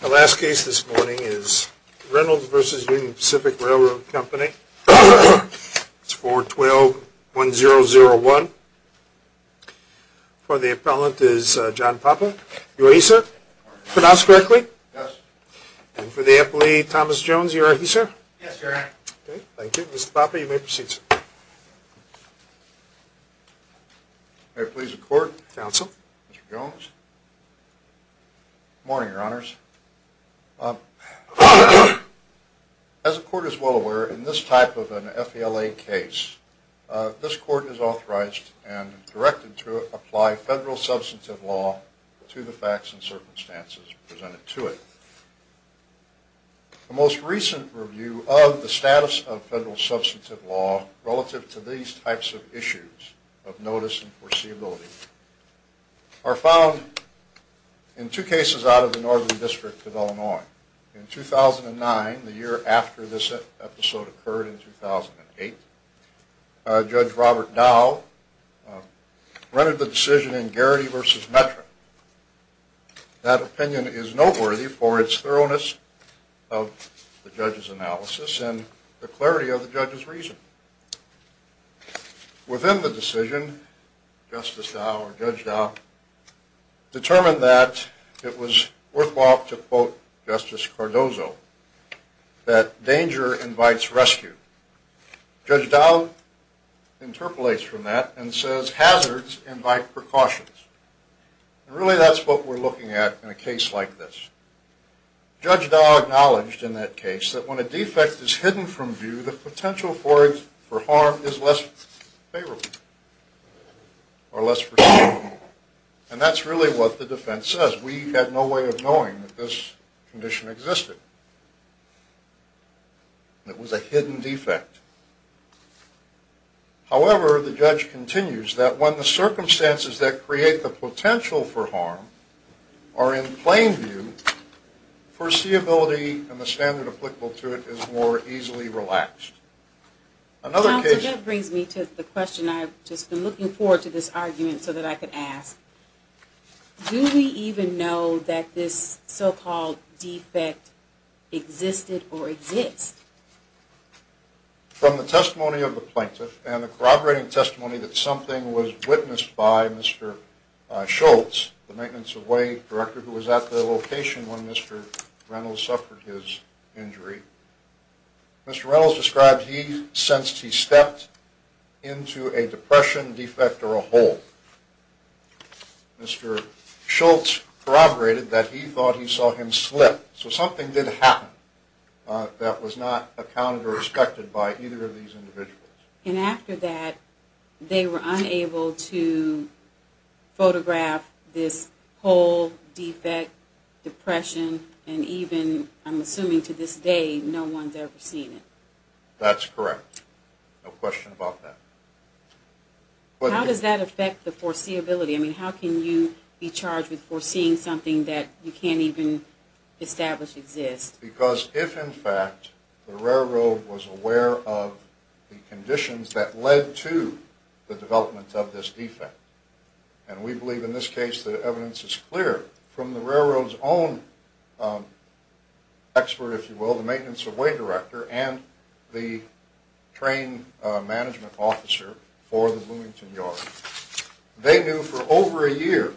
The last case this morning is Reynolds v. Union Pacific Railroad Co. 412-1001. For the appellant is John Papa. You are he, sir? Pronounced correctly? Yes. And for the appellee, Thomas Jones, you are he, sir? Yes, sir. Okay, thank you. Mr. Papa, you may proceed, sir. May I please record? Council. Mr. Jones. Good morning, your honors. As the court is well aware, in this type of an FELA case, this court is authorized and directed to apply federal substantive law to the facts and circumstances presented to it. The most recent review of the status of federal substantive law relative to these types of issues of notice and foreseeability are found in two cases out of the Northern District of Illinois. In 2009, the year after this episode occurred in 2008, Judge Robert Dow rendered the decision in Garrity v. Metric. That opinion is noteworthy for its thoroughness of the judge's analysis and the clarity of the judge's reason. Within the decision, Justice Dow or Judge Dow determined that it was worthwhile to quote Justice Cardozo that danger invites rescue. Judge Dow interpolates from that and says hazards invite precautions. Really, that's what we're looking at in a case like this. Judge Dow acknowledged in that case that when a defect is hidden from view, the potential for harm is less favorable or less foreseeable. And that's really what the defense says. We had no way of knowing that this condition existed. It was a hidden defect. However, the judge continues that when the circumstances that create the potential for harm are in plain view, foreseeability and the standard applicable to it is more easily relaxed. Counsel, that brings me to the question I've just been looking forward to this argument so that I could ask. Do we even know that this so-called defect existed or exists? From the testimony of the plaintiff and the corroborating testimony that something was witnessed by Mr. Schultz, the maintenance of way director who was at the location when Mr. Reynolds suffered his injury, Mr. Reynolds described he sensed he stepped into a depression, defect or a hole. Mr. Schultz corroborated that he thought he saw him slip. So something did happen that was not accounted or respected by either of these individuals. And after that, they were unable to photograph this hole, defect, depression, and even, I'm assuming to this day, no one's ever seen it. That's correct. No question about that. How does that affect the foreseeability? I mean, how can you be charged with foreseeing something that you can't even establish exists? Because if, in fact, the railroad was aware of the conditions that led to the development of this defect, and we believe in this case the evidence is clear from the railroad's own expert, if you will, the maintenance of way director and the train management officer for the Bloomington Yard, they knew for over a year,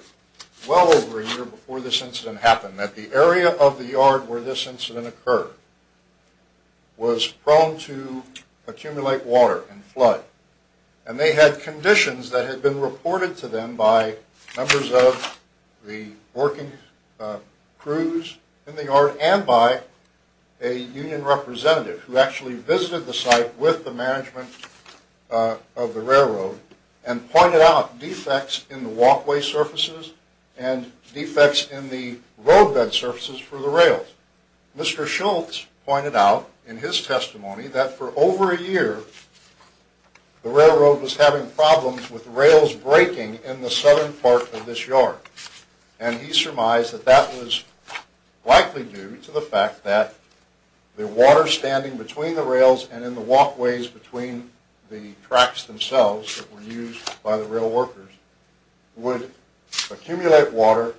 well over a year before this incident happened, that the area of the yard where this incident occurred was prone to accumulate water and flood. And they had conditions that had been reported to them by members of the working crews in the yard and by a union representative who actually visited the site with the management of the railroad and pointed out defects in the walkway surfaces and defects in the roadbed surfaces for the rails. Mr. Schultz pointed out in his testimony that for over a year the railroad was having problems with rails breaking in the southern part of this yard. And he surmised that that was likely due to the fact that the water standing between the rails and in the walkways between the tracks themselves that were used by the rail workers would accumulate water.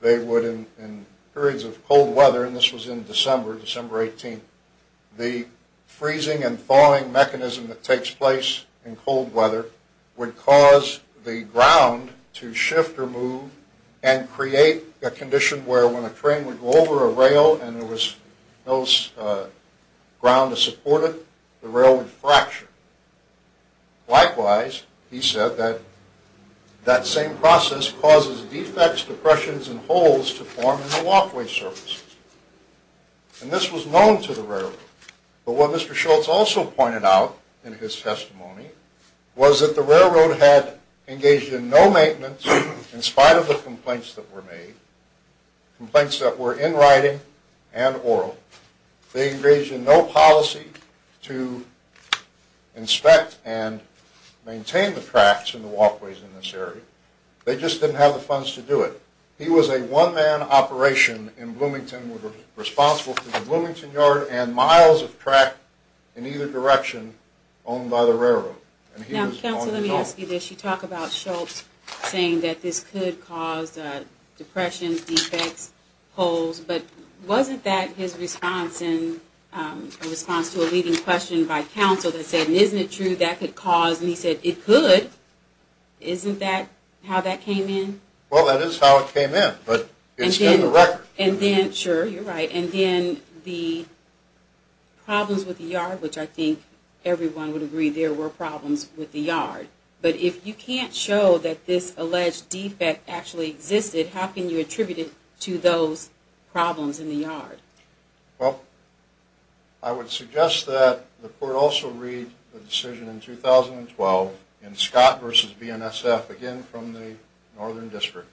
They would in periods of cold weather, and this was in December, December 18th, the freezing and thawing mechanism that takes place in cold weather would cause the ground to shift or move and create a condition where when a train would go over a rail and there was no ground to support it, the rail would fracture. Likewise, he said that that same process causes defects, depressions, and holes to form in the walkway surfaces. And this was known to the railroad. But what Mr. Schultz also pointed out in his testimony was that the railroad had engaged in no maintenance in spite of the complaints that were made, complaints that were in writing and oral. They engaged in no policy to inspect and maintain the tracks and the walkways in this area. They just didn't have the funds to do it. He was a one-man operation in Bloomington, responsible for the Bloomington yard and miles of track in either direction owned by the railroad. Now, counsel, let me ask you this. You talk about Schultz saying that this could cause depressions, defects, holes, but wasn't that his response to a leading question by counsel that said, isn't it true that could cause? And he said, it could. Isn't that how that came in? Well, that is how it came in, but it's been the record. And then, sure, you're right. And then the problems with the yard, which I think everyone would agree there were problems with the yard. But if you can't show that this alleged defect actually existed, how can you attribute it to those problems in the yard? Well, I would suggest that the court also read the decision in 2012 in Scott v. BNSF, again from the Northern District.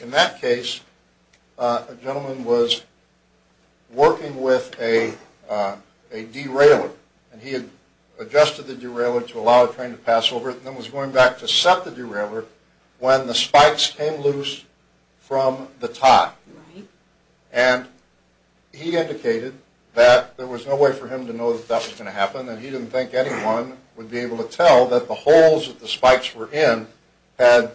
In that case, a gentleman was working with a derailleur, and he had adjusted the derailleur to allow a train to pass over it and then was going back to set the derailleur when the spikes came loose from the tie. And he indicated that there was no way for him to know that that was going to happen, and he didn't think anyone would be able to tell that the holes that the spikes were in had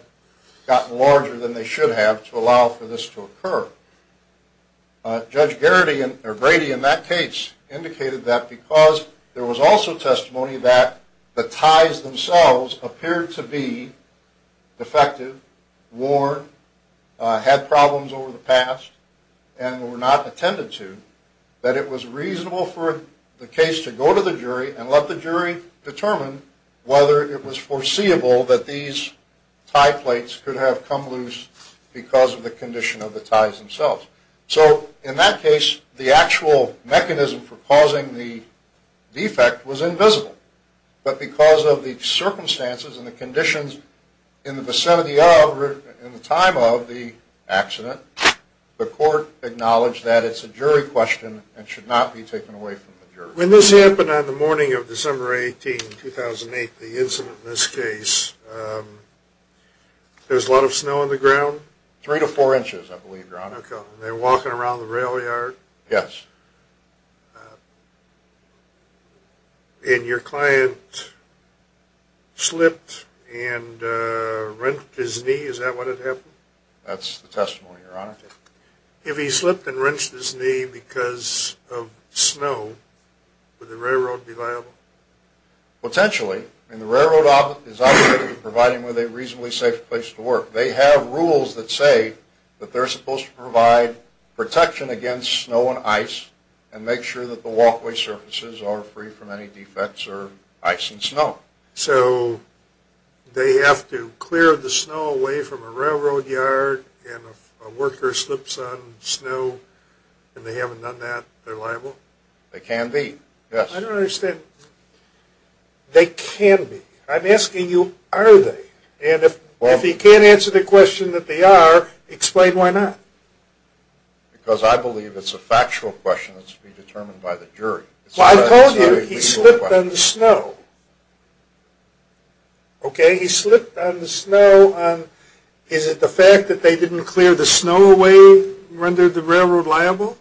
gotten larger than they should have to allow for this to occur. Judge Grady in that case indicated that because there was also testimony that the ties themselves appeared to be defective, worn, had problems over the past, and were not attended to, that it was reasonable for the case to go to the jury and let the jury determine whether it was foreseeable that these tie plates could have come loose because of the condition of the ties themselves. So in that case, the actual mechanism for causing the defect was invisible. But because of the circumstances and the conditions in the vicinity of, in the time of the accident, the court acknowledged that it's a jury question and should not be taken away from the jury. When this happened on the morning of December 18, 2008, the incident in this case, there's a lot of snow on the ground? Three to four inches, I believe, Your Honor. Okay. And they're walking around the rail yard? Yes. And your client slipped and wrenched his knee? Is that what had happened? That's the testimony, Your Honor. If he slipped and wrenched his knee because of snow, would the railroad be liable? Potentially. And the railroad is obligated to provide him with a reasonably safe place to work. They have rules that say that they're supposed to provide protection against snow and ice and make sure that the walkway surfaces are free from any defects or ice and snow. So they have to clear the snow away from a railroad yard and if a worker slips on snow and they haven't done that, they're liable? They can be, yes. I don't understand. They can be. I'm asking you, are they? And if he can't answer the question that they are, explain why not. Because I believe it's a factual question that should be determined by the jury. Well, I told you he slipped on the snow. Okay? He slipped on the snow. Is it the fact that they didn't clear the snow away rendered the railroad liable?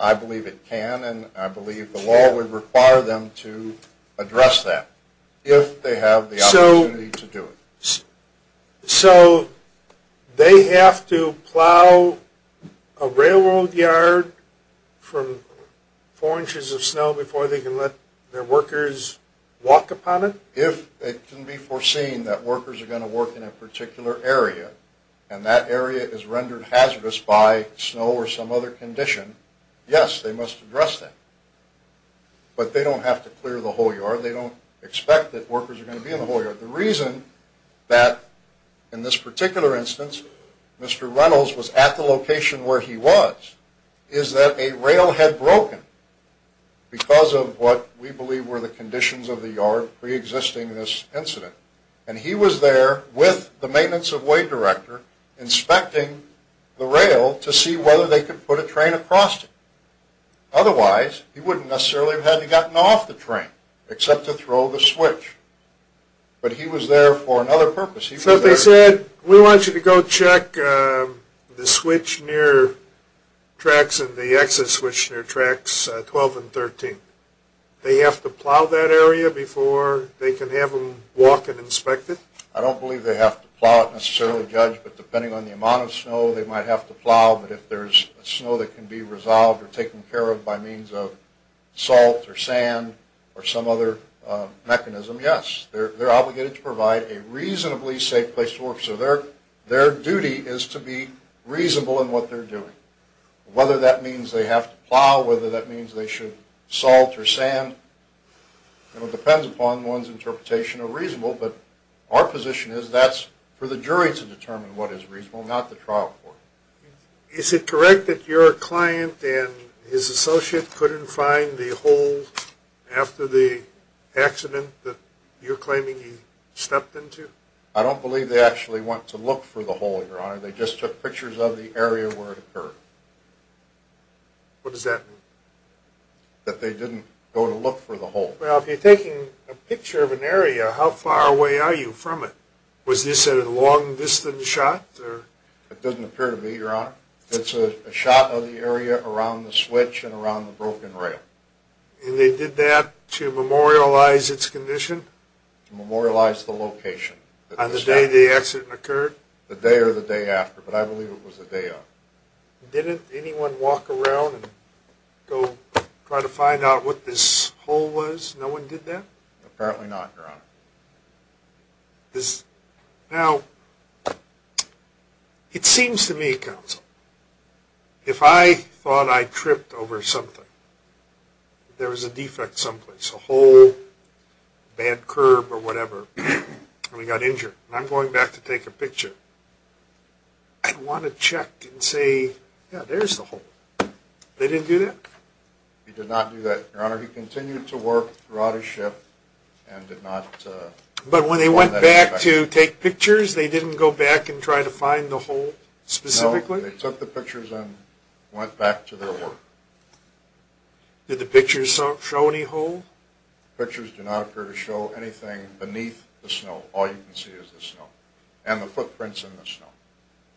I believe it can and I believe the law would require them to address that if they have the opportunity to do it. So they have to plow a railroad yard from four inches of snow before they can let their workers walk upon it? If it can be foreseen that workers are going to work in a particular area and that area is rendered hazardous by snow or some other condition, yes, they must address that. But they don't have to clear the whole yard. They don't expect that workers are going to be in the whole yard. The reason that in this particular instance Mr. Reynolds was at the location where he was is that a rail had broken because of what we believe were the conditions of the yard preexisting this incident. And he was there with the maintenance of way director inspecting the rail to see whether they could put a train across it. Otherwise, he wouldn't necessarily have had to gotten off the train except to throw the switch. But he was there for another purpose. So they said, we want you to go check the switch near tracks and the exit switch near tracks 12 and 13. They have to plow that area before they can have them walk and inspect it? I don't believe they have to plow it necessarily, Judge. But depending on the amount of snow, they might have to plow. But if there's snow that can be resolved or taken care of by means of salt or sand or some other mechanism, yes. They're obligated to provide a reasonably safe place to work. So their duty is to be reasonable in what they're doing. Whether that means they have to plow, whether that means they should salt or sand, it depends upon one's interpretation of reasonable. But our position is that's for the jury to determine what is reasonable, not the trial court. Is it correct that your client and his associate couldn't find the hole after the accident that you're claiming he stepped into? I don't believe they actually went to look for the hole, Your Honor. They just took pictures of the area where it occurred. What does that mean? That they didn't go to look for the hole. Well, if you're taking a picture of an area, how far away are you from it? Was this a long-distance shot? It doesn't appear to be, Your Honor. It's a shot of the area around the switch and around the broken rail. And they did that to memorialize its condition? To memorialize the location. On the day the accident occurred? The day or the day after, but I believe it was the day of. Didn't anyone walk around and go try to find out what this hole was? No one did that? Apparently not, Your Honor. Now, it seems to me, Counsel, if I thought I tripped over something, there was a defect someplace, a hole, bad curb or whatever, and we got injured. And I'm going back to take a picture. I'd want to check and say, yeah, there's the hole. They didn't do that? They did not do that, Your Honor. He continued to work, brought his ship, and did not go in that direction. But when they went back to take pictures, they didn't go back and try to find the hole specifically? No, they took the pictures and went back to their work. Did the pictures show any hole? The pictures do not appear to show anything beneath the snow. All you can see is the snow and the footprints in the snow.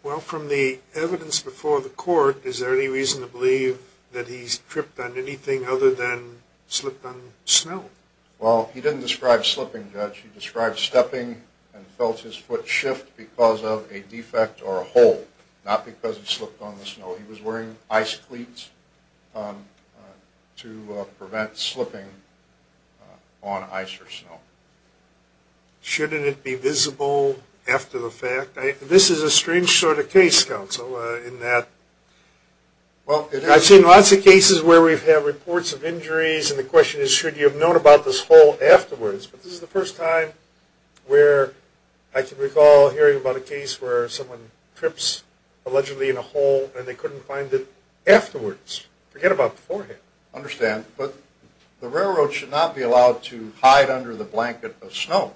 Well, from the evidence before the court, is there any reason to believe that he tripped on anything other than slipped on snow? Well, he didn't describe slipping, Judge. He described stepping and felt his foot shift because of a defect or a hole, not because he slipped on the snow. He was wearing ice cleats to prevent slipping on ice or snow. Shouldn't it be visible after the fact? This is a strange sort of case, Counsel, in that I've seen lots of cases where we've had reports of injuries, and the question is should you have known about this hole afterwards? But this is the first time where I can recall hearing about a case where someone trips allegedly in a hole and they couldn't find it afterwards. Forget about beforehand. I understand, but the railroad should not be allowed to hide under the blanket of snow.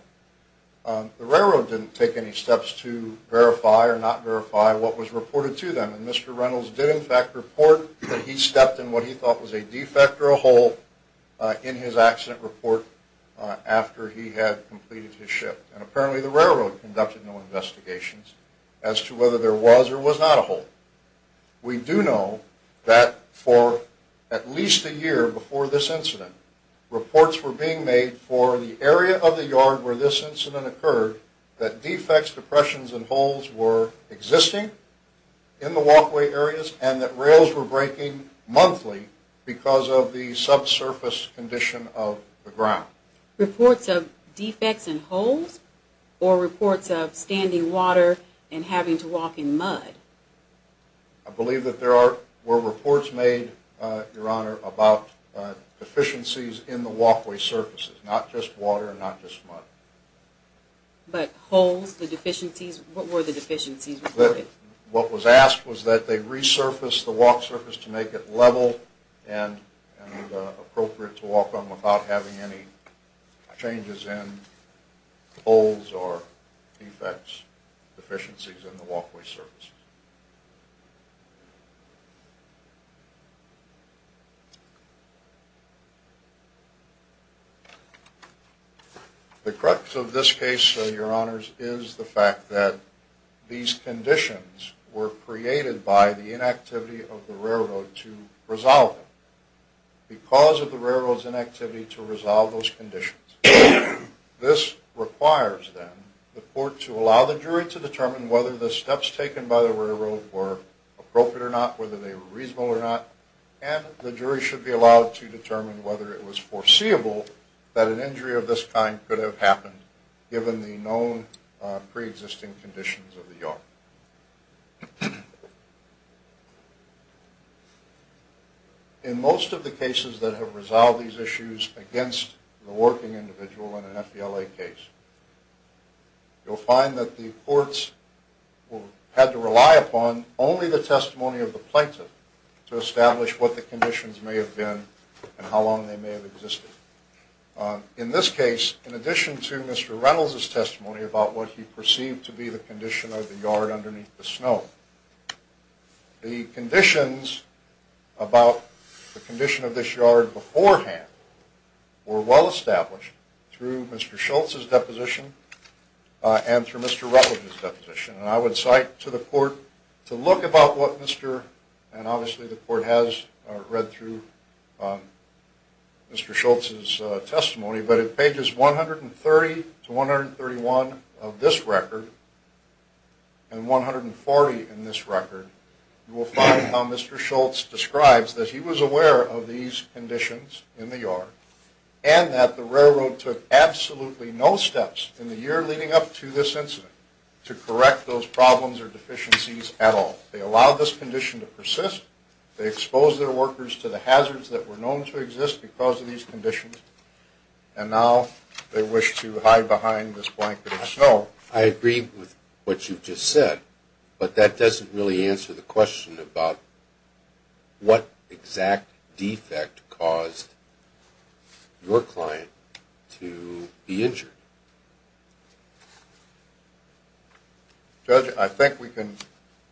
The railroad didn't take any steps to verify or not verify what was reported to them, and Mr. Reynolds did in fact report that he stepped in what he thought was a defect or a hole in his accident report after he had completed his shift. And apparently the railroad conducted no investigations as to whether there was or was not a hole. We do know that for at least a year before this incident, reports were being made for the area of the yard where this incident occurred that defects, depressions, and holes were existing in the walkway areas and that rails were breaking monthly because of the subsurface condition of the ground. Reports of defects and holes or reports of standing water and having to walk in mud? I believe that there were reports made, Your Honor, about deficiencies in the walkway surfaces, not just water and not just mud. But holes, the deficiencies, what were the deficiencies reported? What was asked was that they resurface the walk surface to make it level and appropriate to walk on without having any changes in holes or defects, deficiencies in the walkway surfaces. The crux of this case, Your Honors, is the fact that these conditions were created by the inactivity of the railroad to resolve them because of the railroad's inactivity to resolve those conditions. This requires, then, the court to allow the jury to determine whether the steps taken by the railroad were appropriate or not, whether they were reasonable or not, and the jury should be allowed to determine whether it was foreseeable that an injury of this kind could have happened given the known preexisting conditions of the yard. In most of the cases that have resolved these issues against the working individual in an FBLA case, you'll find that the courts had to rely upon only the testimony of the plaintiff to establish what the conditions may have been and how long they may have existed. In this case, in addition to Mr. Reynolds' testimony about what he perceived to be the condition of the yard underneath the snow, the conditions about the condition of this yard beforehand were well established through Mr. Schultz's deposition and through Mr. Rutledge's deposition. And I would cite to the court to look about what Mr., and obviously the court has read through Mr. Schultz's testimony, but at pages 130 to 131 of this record and 140 in this record, you will find how Mr. Schultz describes that he was aware of these conditions in the yard and that the railroad took absolutely no steps in the year leading up to this incident to correct those problems or deficiencies at all. They allowed this condition to persist. They exposed their workers to the hazards that were known to exist because of these conditions, and now they wish to hide behind this blanket of snow. I agree with what you've just said, but that doesn't really answer the question about what exact defect caused your client to be injured. Judge, I think we can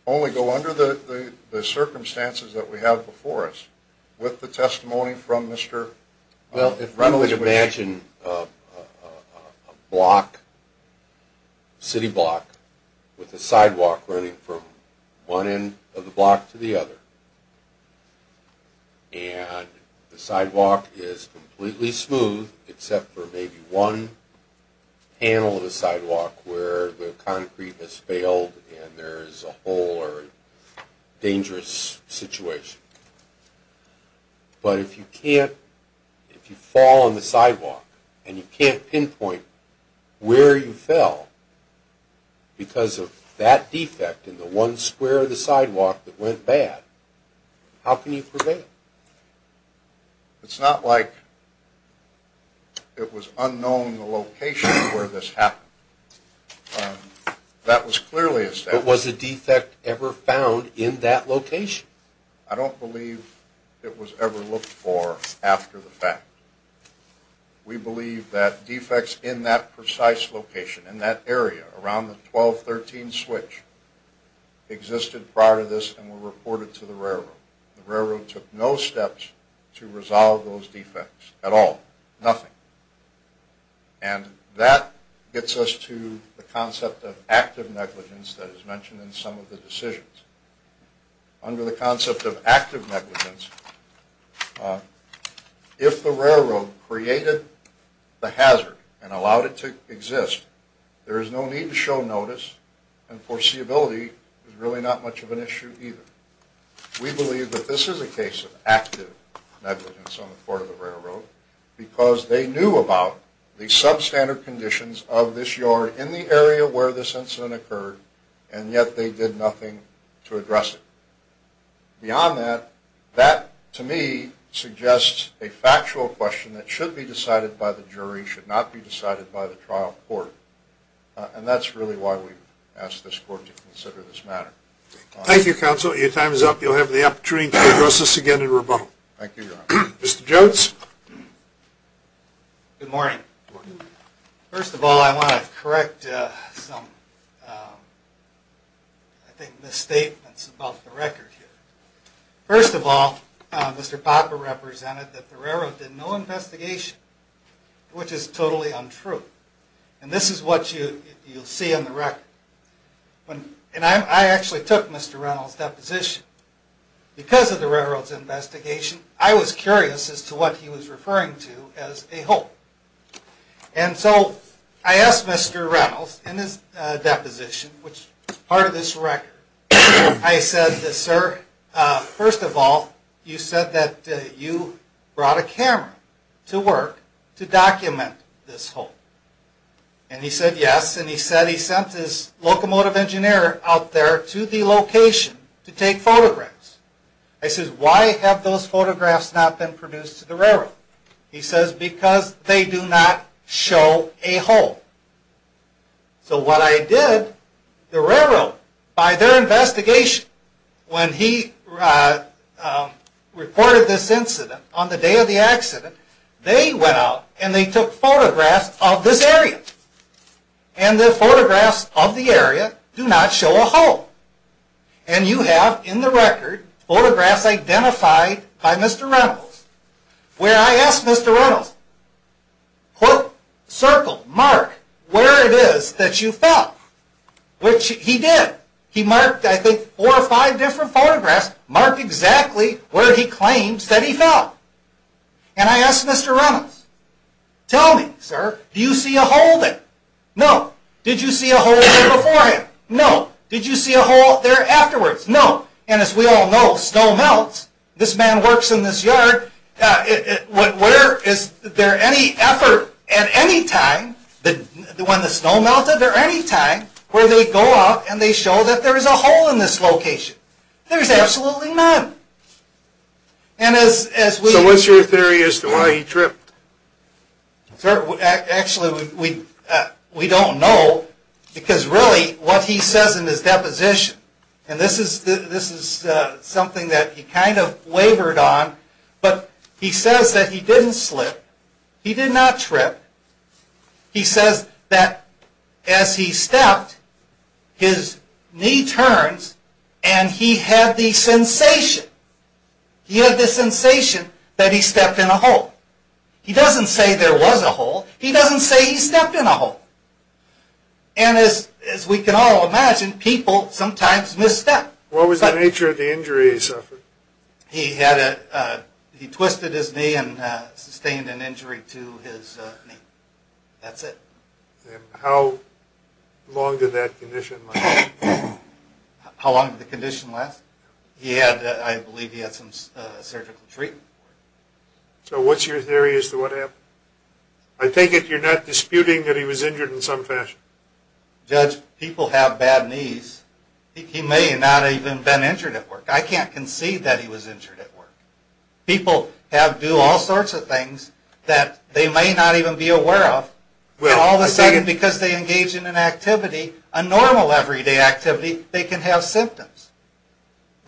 only go under the circumstances that we have before us with the testimony from Mr. Schultz. Well, if one would imagine a block, city block, with a sidewalk running from one end of the block to the other, and the sidewalk is completely smooth except for maybe one panel of the sidewalk where the concrete has failed and there is a hole or a dangerous situation. But if you can't, if you fall on the sidewalk and you can't pinpoint where you fell because of that defect in the one square of the sidewalk that went bad, how can you prevent it? It's not like it was unknown the location where this happened. That was clearly a step. But was a defect ever found in that location? I don't believe it was ever looked for after the fact. We believe that defects in that precise location, in that area, around the 1213 switch, existed prior to this and were reported to the railroad. The railroad took no steps to resolve those defects at all, nothing. And that gets us to the concept of active negligence that is mentioned in some of the decisions. Under the concept of active negligence, if the railroad created the hazard and allowed it to exist, there is no need to show notice and foreseeability is really not much of an issue either. We believe that this is a case of active negligence on the part of the railroad because they knew about the substandard conditions of this yard in the area where this incident occurred and yet they did nothing to address it. Beyond that, that to me suggests a factual question that should be decided by the jury, should not be decided by the trial court. And that's really why we've asked this court to consider this matter. Thank you, counsel. Your time is up. You'll have the opportunity to address this again in rebuttal. Thank you, Your Honor. Mr. Jotz. Good morning. First of all, I want to correct some, I think, misstatements about the record here. First of all, Mr. Popper represented that the railroad did no investigation, which is totally untrue. And this is what you'll see in the record. And I actually took Mr. Reynolds' deposition. Because of the railroad's investigation, I was curious as to what he was referring to as a hole. And so I asked Mr. Reynolds in his deposition, which is part of this record, I said, Sir, first of all, you said that you brought a camera to work to document this hole. And he said, yes. And he said he sent his locomotive engineer out there to the location to take photographs. I said, why have those photographs not been produced to the railroad? He says, because they do not show a hole. So what I did, the railroad, by their investigation, when he reported this incident, on the day of the accident, they went out and they took photographs of this area. And the photographs of the area do not show a hole. And you have, in the record, photographs identified by Mr. Reynolds, where I asked Mr. Reynolds, quote, circle, mark, where it is that you found. Which he did. He marked, I think, four or five different photographs marked exactly where he claimed that he found. And I asked Mr. Reynolds, tell me, sir, do you see a hole there? No. Did you see a hole there before him? No. Did you see a hole there afterwards? No. And as we all know, snow melts. This man works in this yard. Where is there any effort at any time, when the snow melted, is there any time where they go out and they show that there is a hole in this location? There is absolutely none. So what's your theory as to why he tripped? Sir, actually, we don't know, because really, what he says in his deposition, and this is something that he kind of wavered on, but he says that he didn't slip. He did not trip. He says that as he stepped, his knee turns, and he had the sensation, he had the sensation that he stepped in a hole. He doesn't say there was a hole. He doesn't say he stepped in a hole. And as we can all imagine, people sometimes misstep. What was the nature of the injury he suffered? He twisted his knee and sustained an injury to his knee. That's it. And how long did that condition last? How long did the condition last? He had, I believe he had some surgical treatment. So what's your theory as to what happened? I take it you're not disputing that he was injured in some fashion. Judge, people have bad knees. He may not have even been injured at work. I can't concede that he was injured at work. People do all sorts of things that they may not even be aware of, and all of a sudden, because they engage in an activity, a normal everyday activity, they can have symptoms.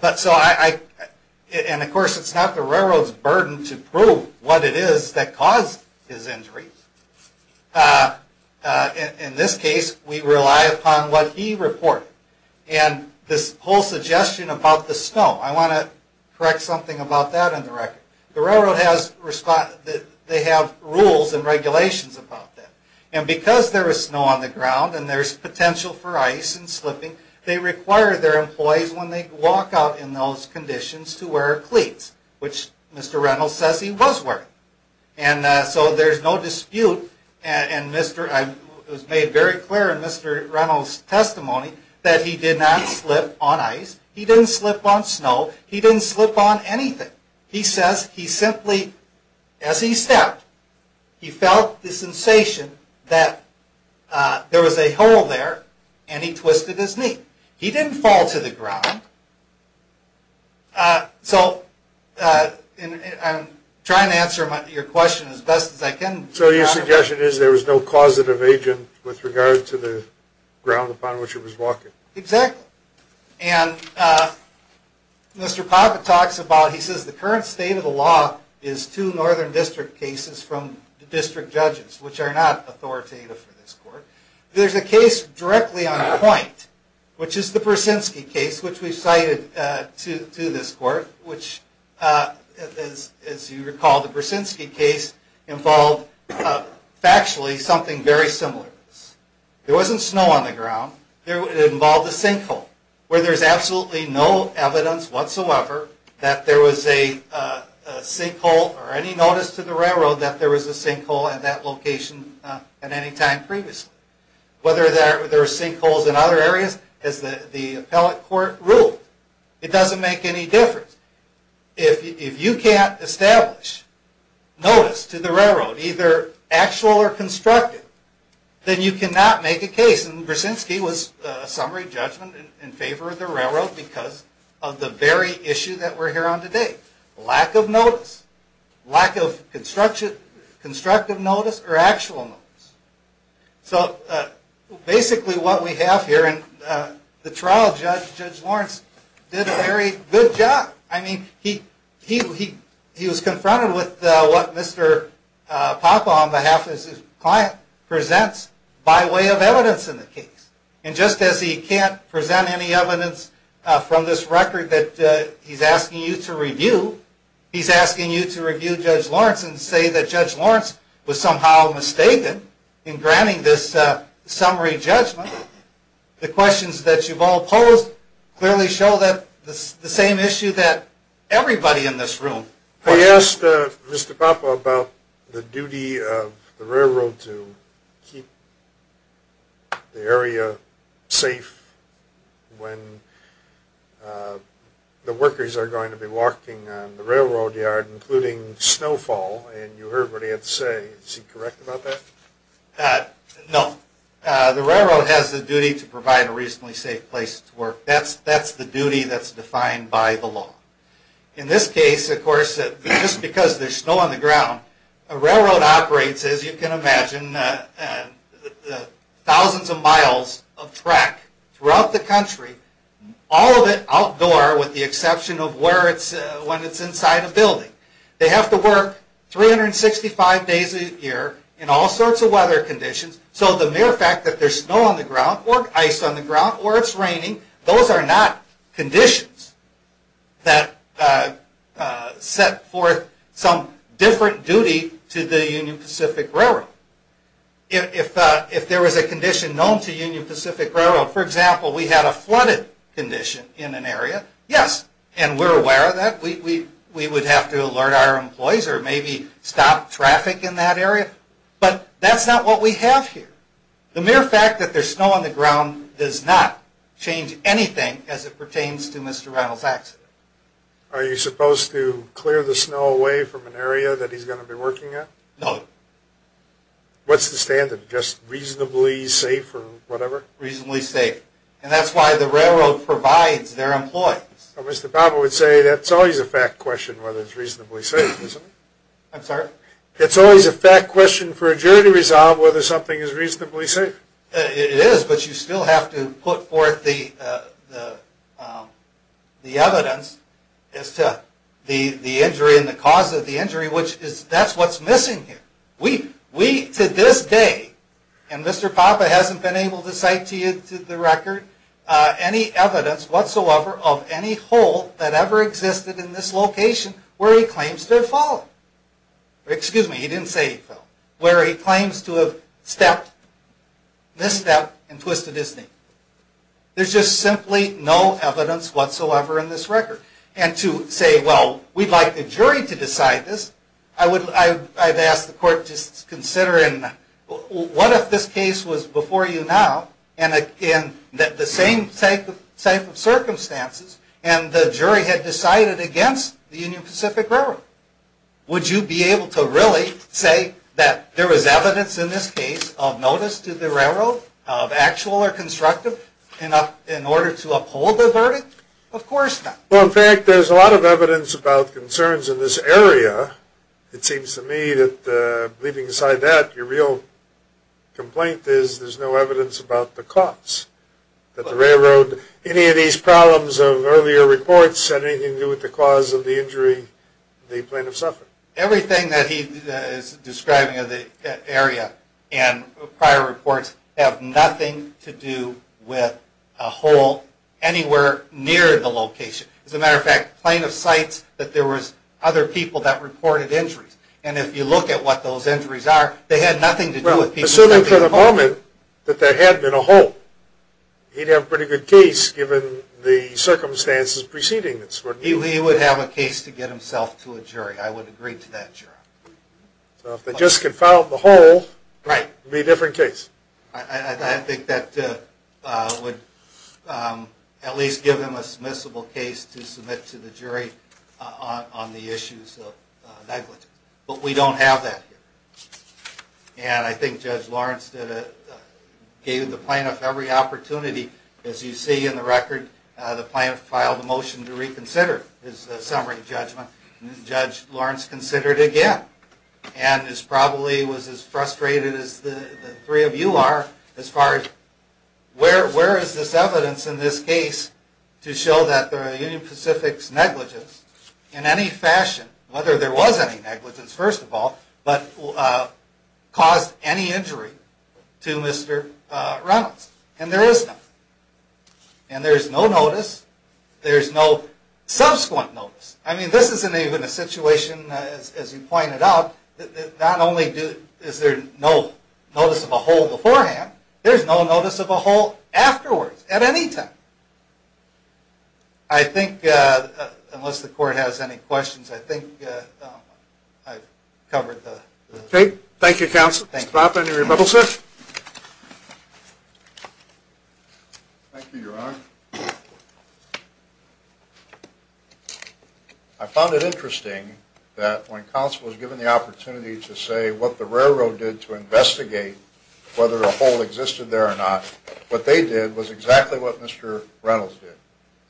And, of course, it's not the railroad's burden to prove what it is that caused his injury. In this case, we rely upon what he reported. And this whole suggestion about the snow, I want to correct something about that in the record. The railroad has rules and regulations about that. And because there is snow on the ground and there's potential for ice and slipping, they require their employees, when they walk out in those conditions, to wear cleats, which Mr. Reynolds says he was wearing. And so there's no dispute, and it was made very clear in Mr. Reynolds' testimony, that he did not slip on ice. He didn't slip on snow. He didn't slip on anything. He says he simply, as he stepped, he felt the sensation that there was a hole there, and he twisted his knee. He didn't fall to the ground. So I'm trying to answer your question as best as I can. So your suggestion is there was no causative agent with regard to the ground upon which he was walking? Exactly. And Mr. Poppe talks about, he says the current state of the law is two northern district cases from the district judges, which are not authoritative for this court. There's a case directly on point, which is the Persinski case, which we've cited to this court, which, as you recall, the Persinski case involved factually something very similar to this. There wasn't snow on the ground. It involved a sinkhole, where there's absolutely no evidence whatsoever that there was a sinkhole, or any notice to the railroad that there was a sinkhole at that location at any time previously. Whether there are sinkholes in other areas, as the appellate court ruled, it doesn't make any difference. If you can't establish notice to the railroad, either actual or constructive, then you cannot make a case. And Persinski was a summary judgment in favor of the railroad because of the very issue that we're here on today. Lack of notice. Lack of constructive notice or actual notice. So basically what we have here in the trial, Judge Lawrence did a very good job. I mean, he was confronted with what Mr. Papa, on behalf of his client, presents by way of evidence in the case. And just as he can't present any evidence from this record that he's asking you to review, Judge Lawrence, and say that Judge Lawrence was somehow mistaken in granting this summary judgment, the questions that you've all posed clearly show the same issue that everybody in this room questions. I asked Mr. Papa about the duty of the railroad to keep the area safe when the workers are going to be walking on the railroad yard, including snowfall, and you heard what he had to say. Is he correct about that? No. The railroad has the duty to provide a reasonably safe place to work. That's the duty that's defined by the law. In this case, of course, just because there's snow on the ground, a railroad operates, as you can imagine, thousands of miles of track throughout the country, all of it outdoor with the exception of when it's inside a building. They have to work 365 days a year in all sorts of weather conditions, so the mere fact that there's snow on the ground or ice on the ground or it's raining, those are not conditions that set forth some different duty to the Union Pacific Railroad. If there was a condition known to Union Pacific Railroad, for example, we had a flooded condition in an area, yes, and we're aware of that, we would have to alert our employees or maybe stop traffic in that area, but that's not what we have here. The mere fact that there's snow on the ground does not change anything as it pertains to Mr. Reynolds' accident. Are you supposed to clear the snow away from an area that he's going to be working at? No. What's the standard? Just reasonably safe or whatever? Reasonably safe, and that's why the railroad provides their employees. Mr. Pappa would say that's always a fact question whether it's reasonably safe, isn't it? I'm sorry? It's always a fact question for a jury to resolve whether something is reasonably safe. It is, but you still have to put forth the evidence as to the injury and the cause of the injury, which is that's what's missing here. We, to this day, and Mr. Pappa hasn't been able to cite to you to the record any evidence whatsoever of any hole that ever existed in this location where he claims to have fallen. Excuse me, he didn't say he fell. Where he claims to have misstepped and twisted his knee. There's just simply no evidence whatsoever in this record. And to say, well, we'd like the jury to decide this, I've asked the court to consider What if this case was before you now and in the same type of circumstances and the jury had decided against the Union Pacific Railroad? Would you be able to really say that there was evidence in this case of notice to the railroad of actual or constructive in order to uphold the verdict? Of course not. Well, in fact, there's a lot of evidence about concerns in this area. It seems to me that leaving aside that, your real complaint is there's no evidence about the cause. That the railroad, any of these problems of earlier reports, had anything to do with the cause of the injury the plaintiff suffered. Everything that he is describing of the area and prior reports have nothing to do with a hole anywhere near the location. As a matter of fact, the plaintiff cites that there were other people that reported injuries. And if you look at what those injuries are, they had nothing to do with people... Assuming for the moment that there had been a hole, he'd have a pretty good case given the circumstances preceding this. He would have a case to get himself to a jury. I would agree to that, Your Honor. If they just confound the hole, it would be a different case. I think that would at least give him a submissible case to submit to the jury on the issues of negligence. But we don't have that here. And I think Judge Lawrence gave the plaintiff every opportunity. As you see in the record, the plaintiff filed a motion to reconsider his summary judgment. Judge Lawrence considered it again. And was probably as frustrated as the three of you are as far as where is this evidence in this case to show that there are Union Pacific's negligence in any fashion, whether there was any negligence, first of all, but caused any injury to Mr. Reynolds. And there is none. And there is no notice. There is no subsequent notice. I mean, this isn't even a situation, as you pointed out, that not only is there no notice of a hole beforehand, there's no notice of a hole afterwards at any time. I think, unless the court has any questions, I think I've covered the... Okay. Thank you, Counsel. Mr. Bopp, any rebuttals, sir? Thank you, Your Honor. I found it interesting that when counsel was given the opportunity to say what the railroad did to investigate whether a hole existed there or not, what they did was exactly what Mr. Reynolds did.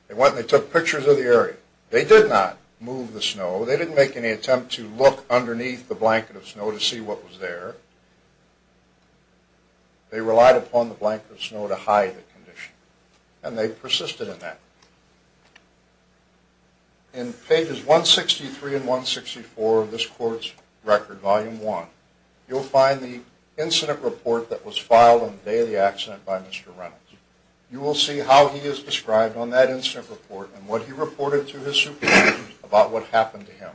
They went and they took pictures of the area. They did not move the snow. They didn't make any attempt to look underneath the blanket of snow to see what was there. They relied upon the blanket of snow to hide the condition. And they persisted in that. In pages 163 and 164 of this court's record, Volume 1, you'll find the incident report that was filed on the day of the accident by Mr. Reynolds. You will see how he is described on that incident report and what he reported to his superiors about what happened to him.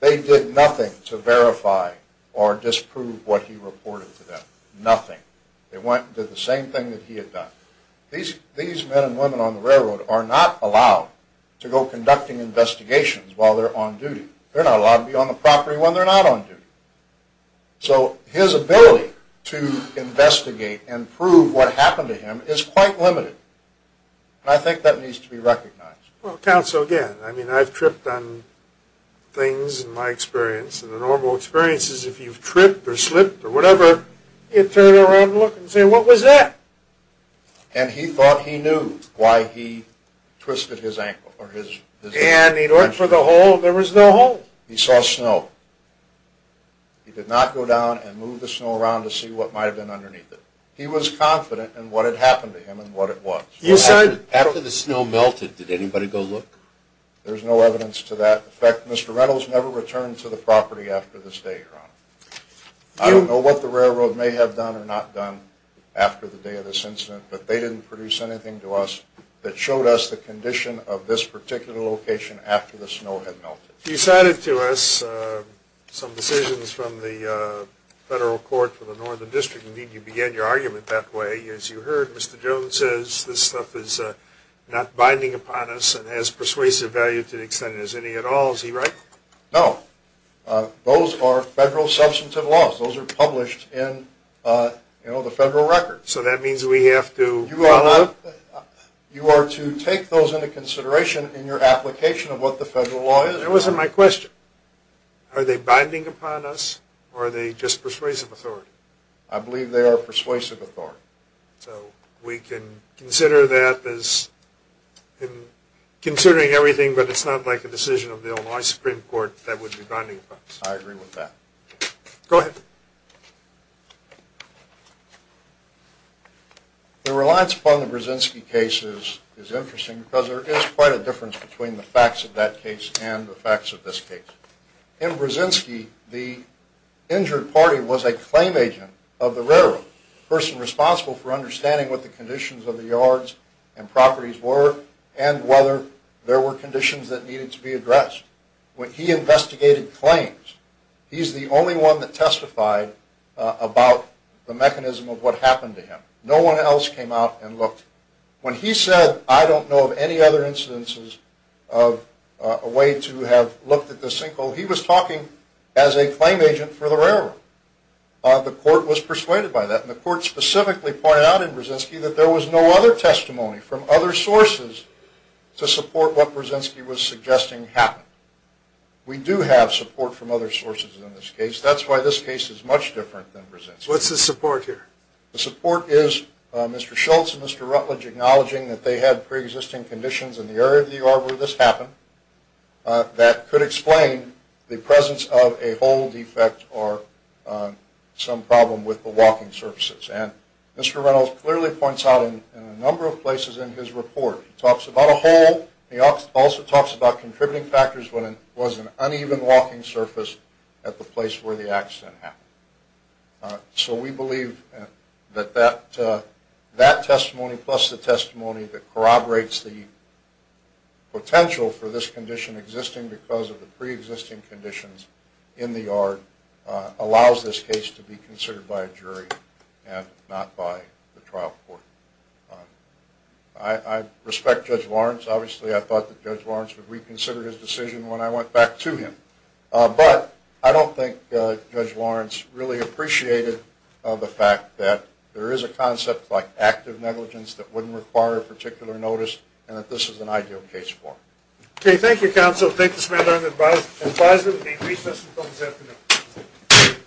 They did nothing to verify or disprove what he reported to them. Nothing. They went and did the same thing that he had done. These men and women on the railroad are not allowed to go conducting investigations while they're on duty. They're not allowed to be on the property when they're not on duty. So his ability to investigate and prove what happened to him is quite limited. And I think that needs to be recognized. Well, counsel, again, I mean, I've tripped on things in my experience, and the normal experience is if you've tripped or slipped or whatever, you turn around and look and say, what was that? And he thought he knew why he twisted his ankle. And he looked for the hole and there was no hole. He saw snow. He did not go down and move the snow around to see what might have been underneath it. He was confident in what had happened to him and what it was. After the snow melted, did anybody go look? There's no evidence to that effect. Mr. Reynolds never returned to the property after this day, Your Honor. I don't know what the railroad may have done or not done after the day of this incident, but they didn't produce anything to us that showed us the condition of this particular location after the snow had melted. You cited to us some decisions from the federal court for the Northern District. Indeed, you began your argument that way. As you heard, Mr. Jones says this stuff is not binding upon us and has persuasive value to the extent it has any at all. Is he right? No. Those are federal substantive laws. Those are published in the federal records. So that means we have to… You are to take those into consideration in your application of what the federal law is. That wasn't my question. Are they binding upon us or are they just persuasive authority? I believe they are persuasive authority. So we can consider that as considering everything, but it's not like a decision of the Illinois Supreme Court that would be binding upon us. I agree with that. Go ahead. The reliance upon the Brzezinski case is interesting because there is quite a difference between the facts of that case and the facts of this case. In Brzezinski, the injured party was a claim agent of the railroad. A person responsible for understanding what the conditions of the yards and properties were and whether there were conditions that needed to be addressed. When he investigated claims, he's the only one that testified about the mechanism of what happened to him. No one else came out and looked. When he said, I don't know of any other instances of a way to have looked at the sinkhole, he was talking as a claim agent for the railroad. The court was persuaded by that, and the court specifically pointed out in Brzezinski that there was no other testimony from other sources to support what Brzezinski was suggesting happened. We do have support from other sources in this case. That's why this case is much different than Brzezinski. What's the support here? The support is Mr. Schultz and Mr. Rutledge acknowledging that they had preexisting conditions in the area of the yard where this happened that could explain the presence of a hole defect or some problem with the walking surfaces. And Mr. Reynolds clearly points out in a number of places in his report, he talks about a hole. He also talks about contributing factors when it was an uneven walking surface at the place where the accident happened. So we believe that that testimony plus the testimony that corroborates the potential for this condition existing because of the preexisting conditions in the yard allows this case to be considered by a jury and not by the trial court. I respect Judge Lawrence. Obviously, I thought that Judge Lawrence would reconsider his decision when I went back to him. But I don't think Judge Lawrence really appreciated the fact that there is a concept like active negligence that wouldn't require a particular notice and that this is an ideal case for him. Okay. Thank you, counsel. Thank you, Samantha. I'm advised there will be a recess until this afternoon.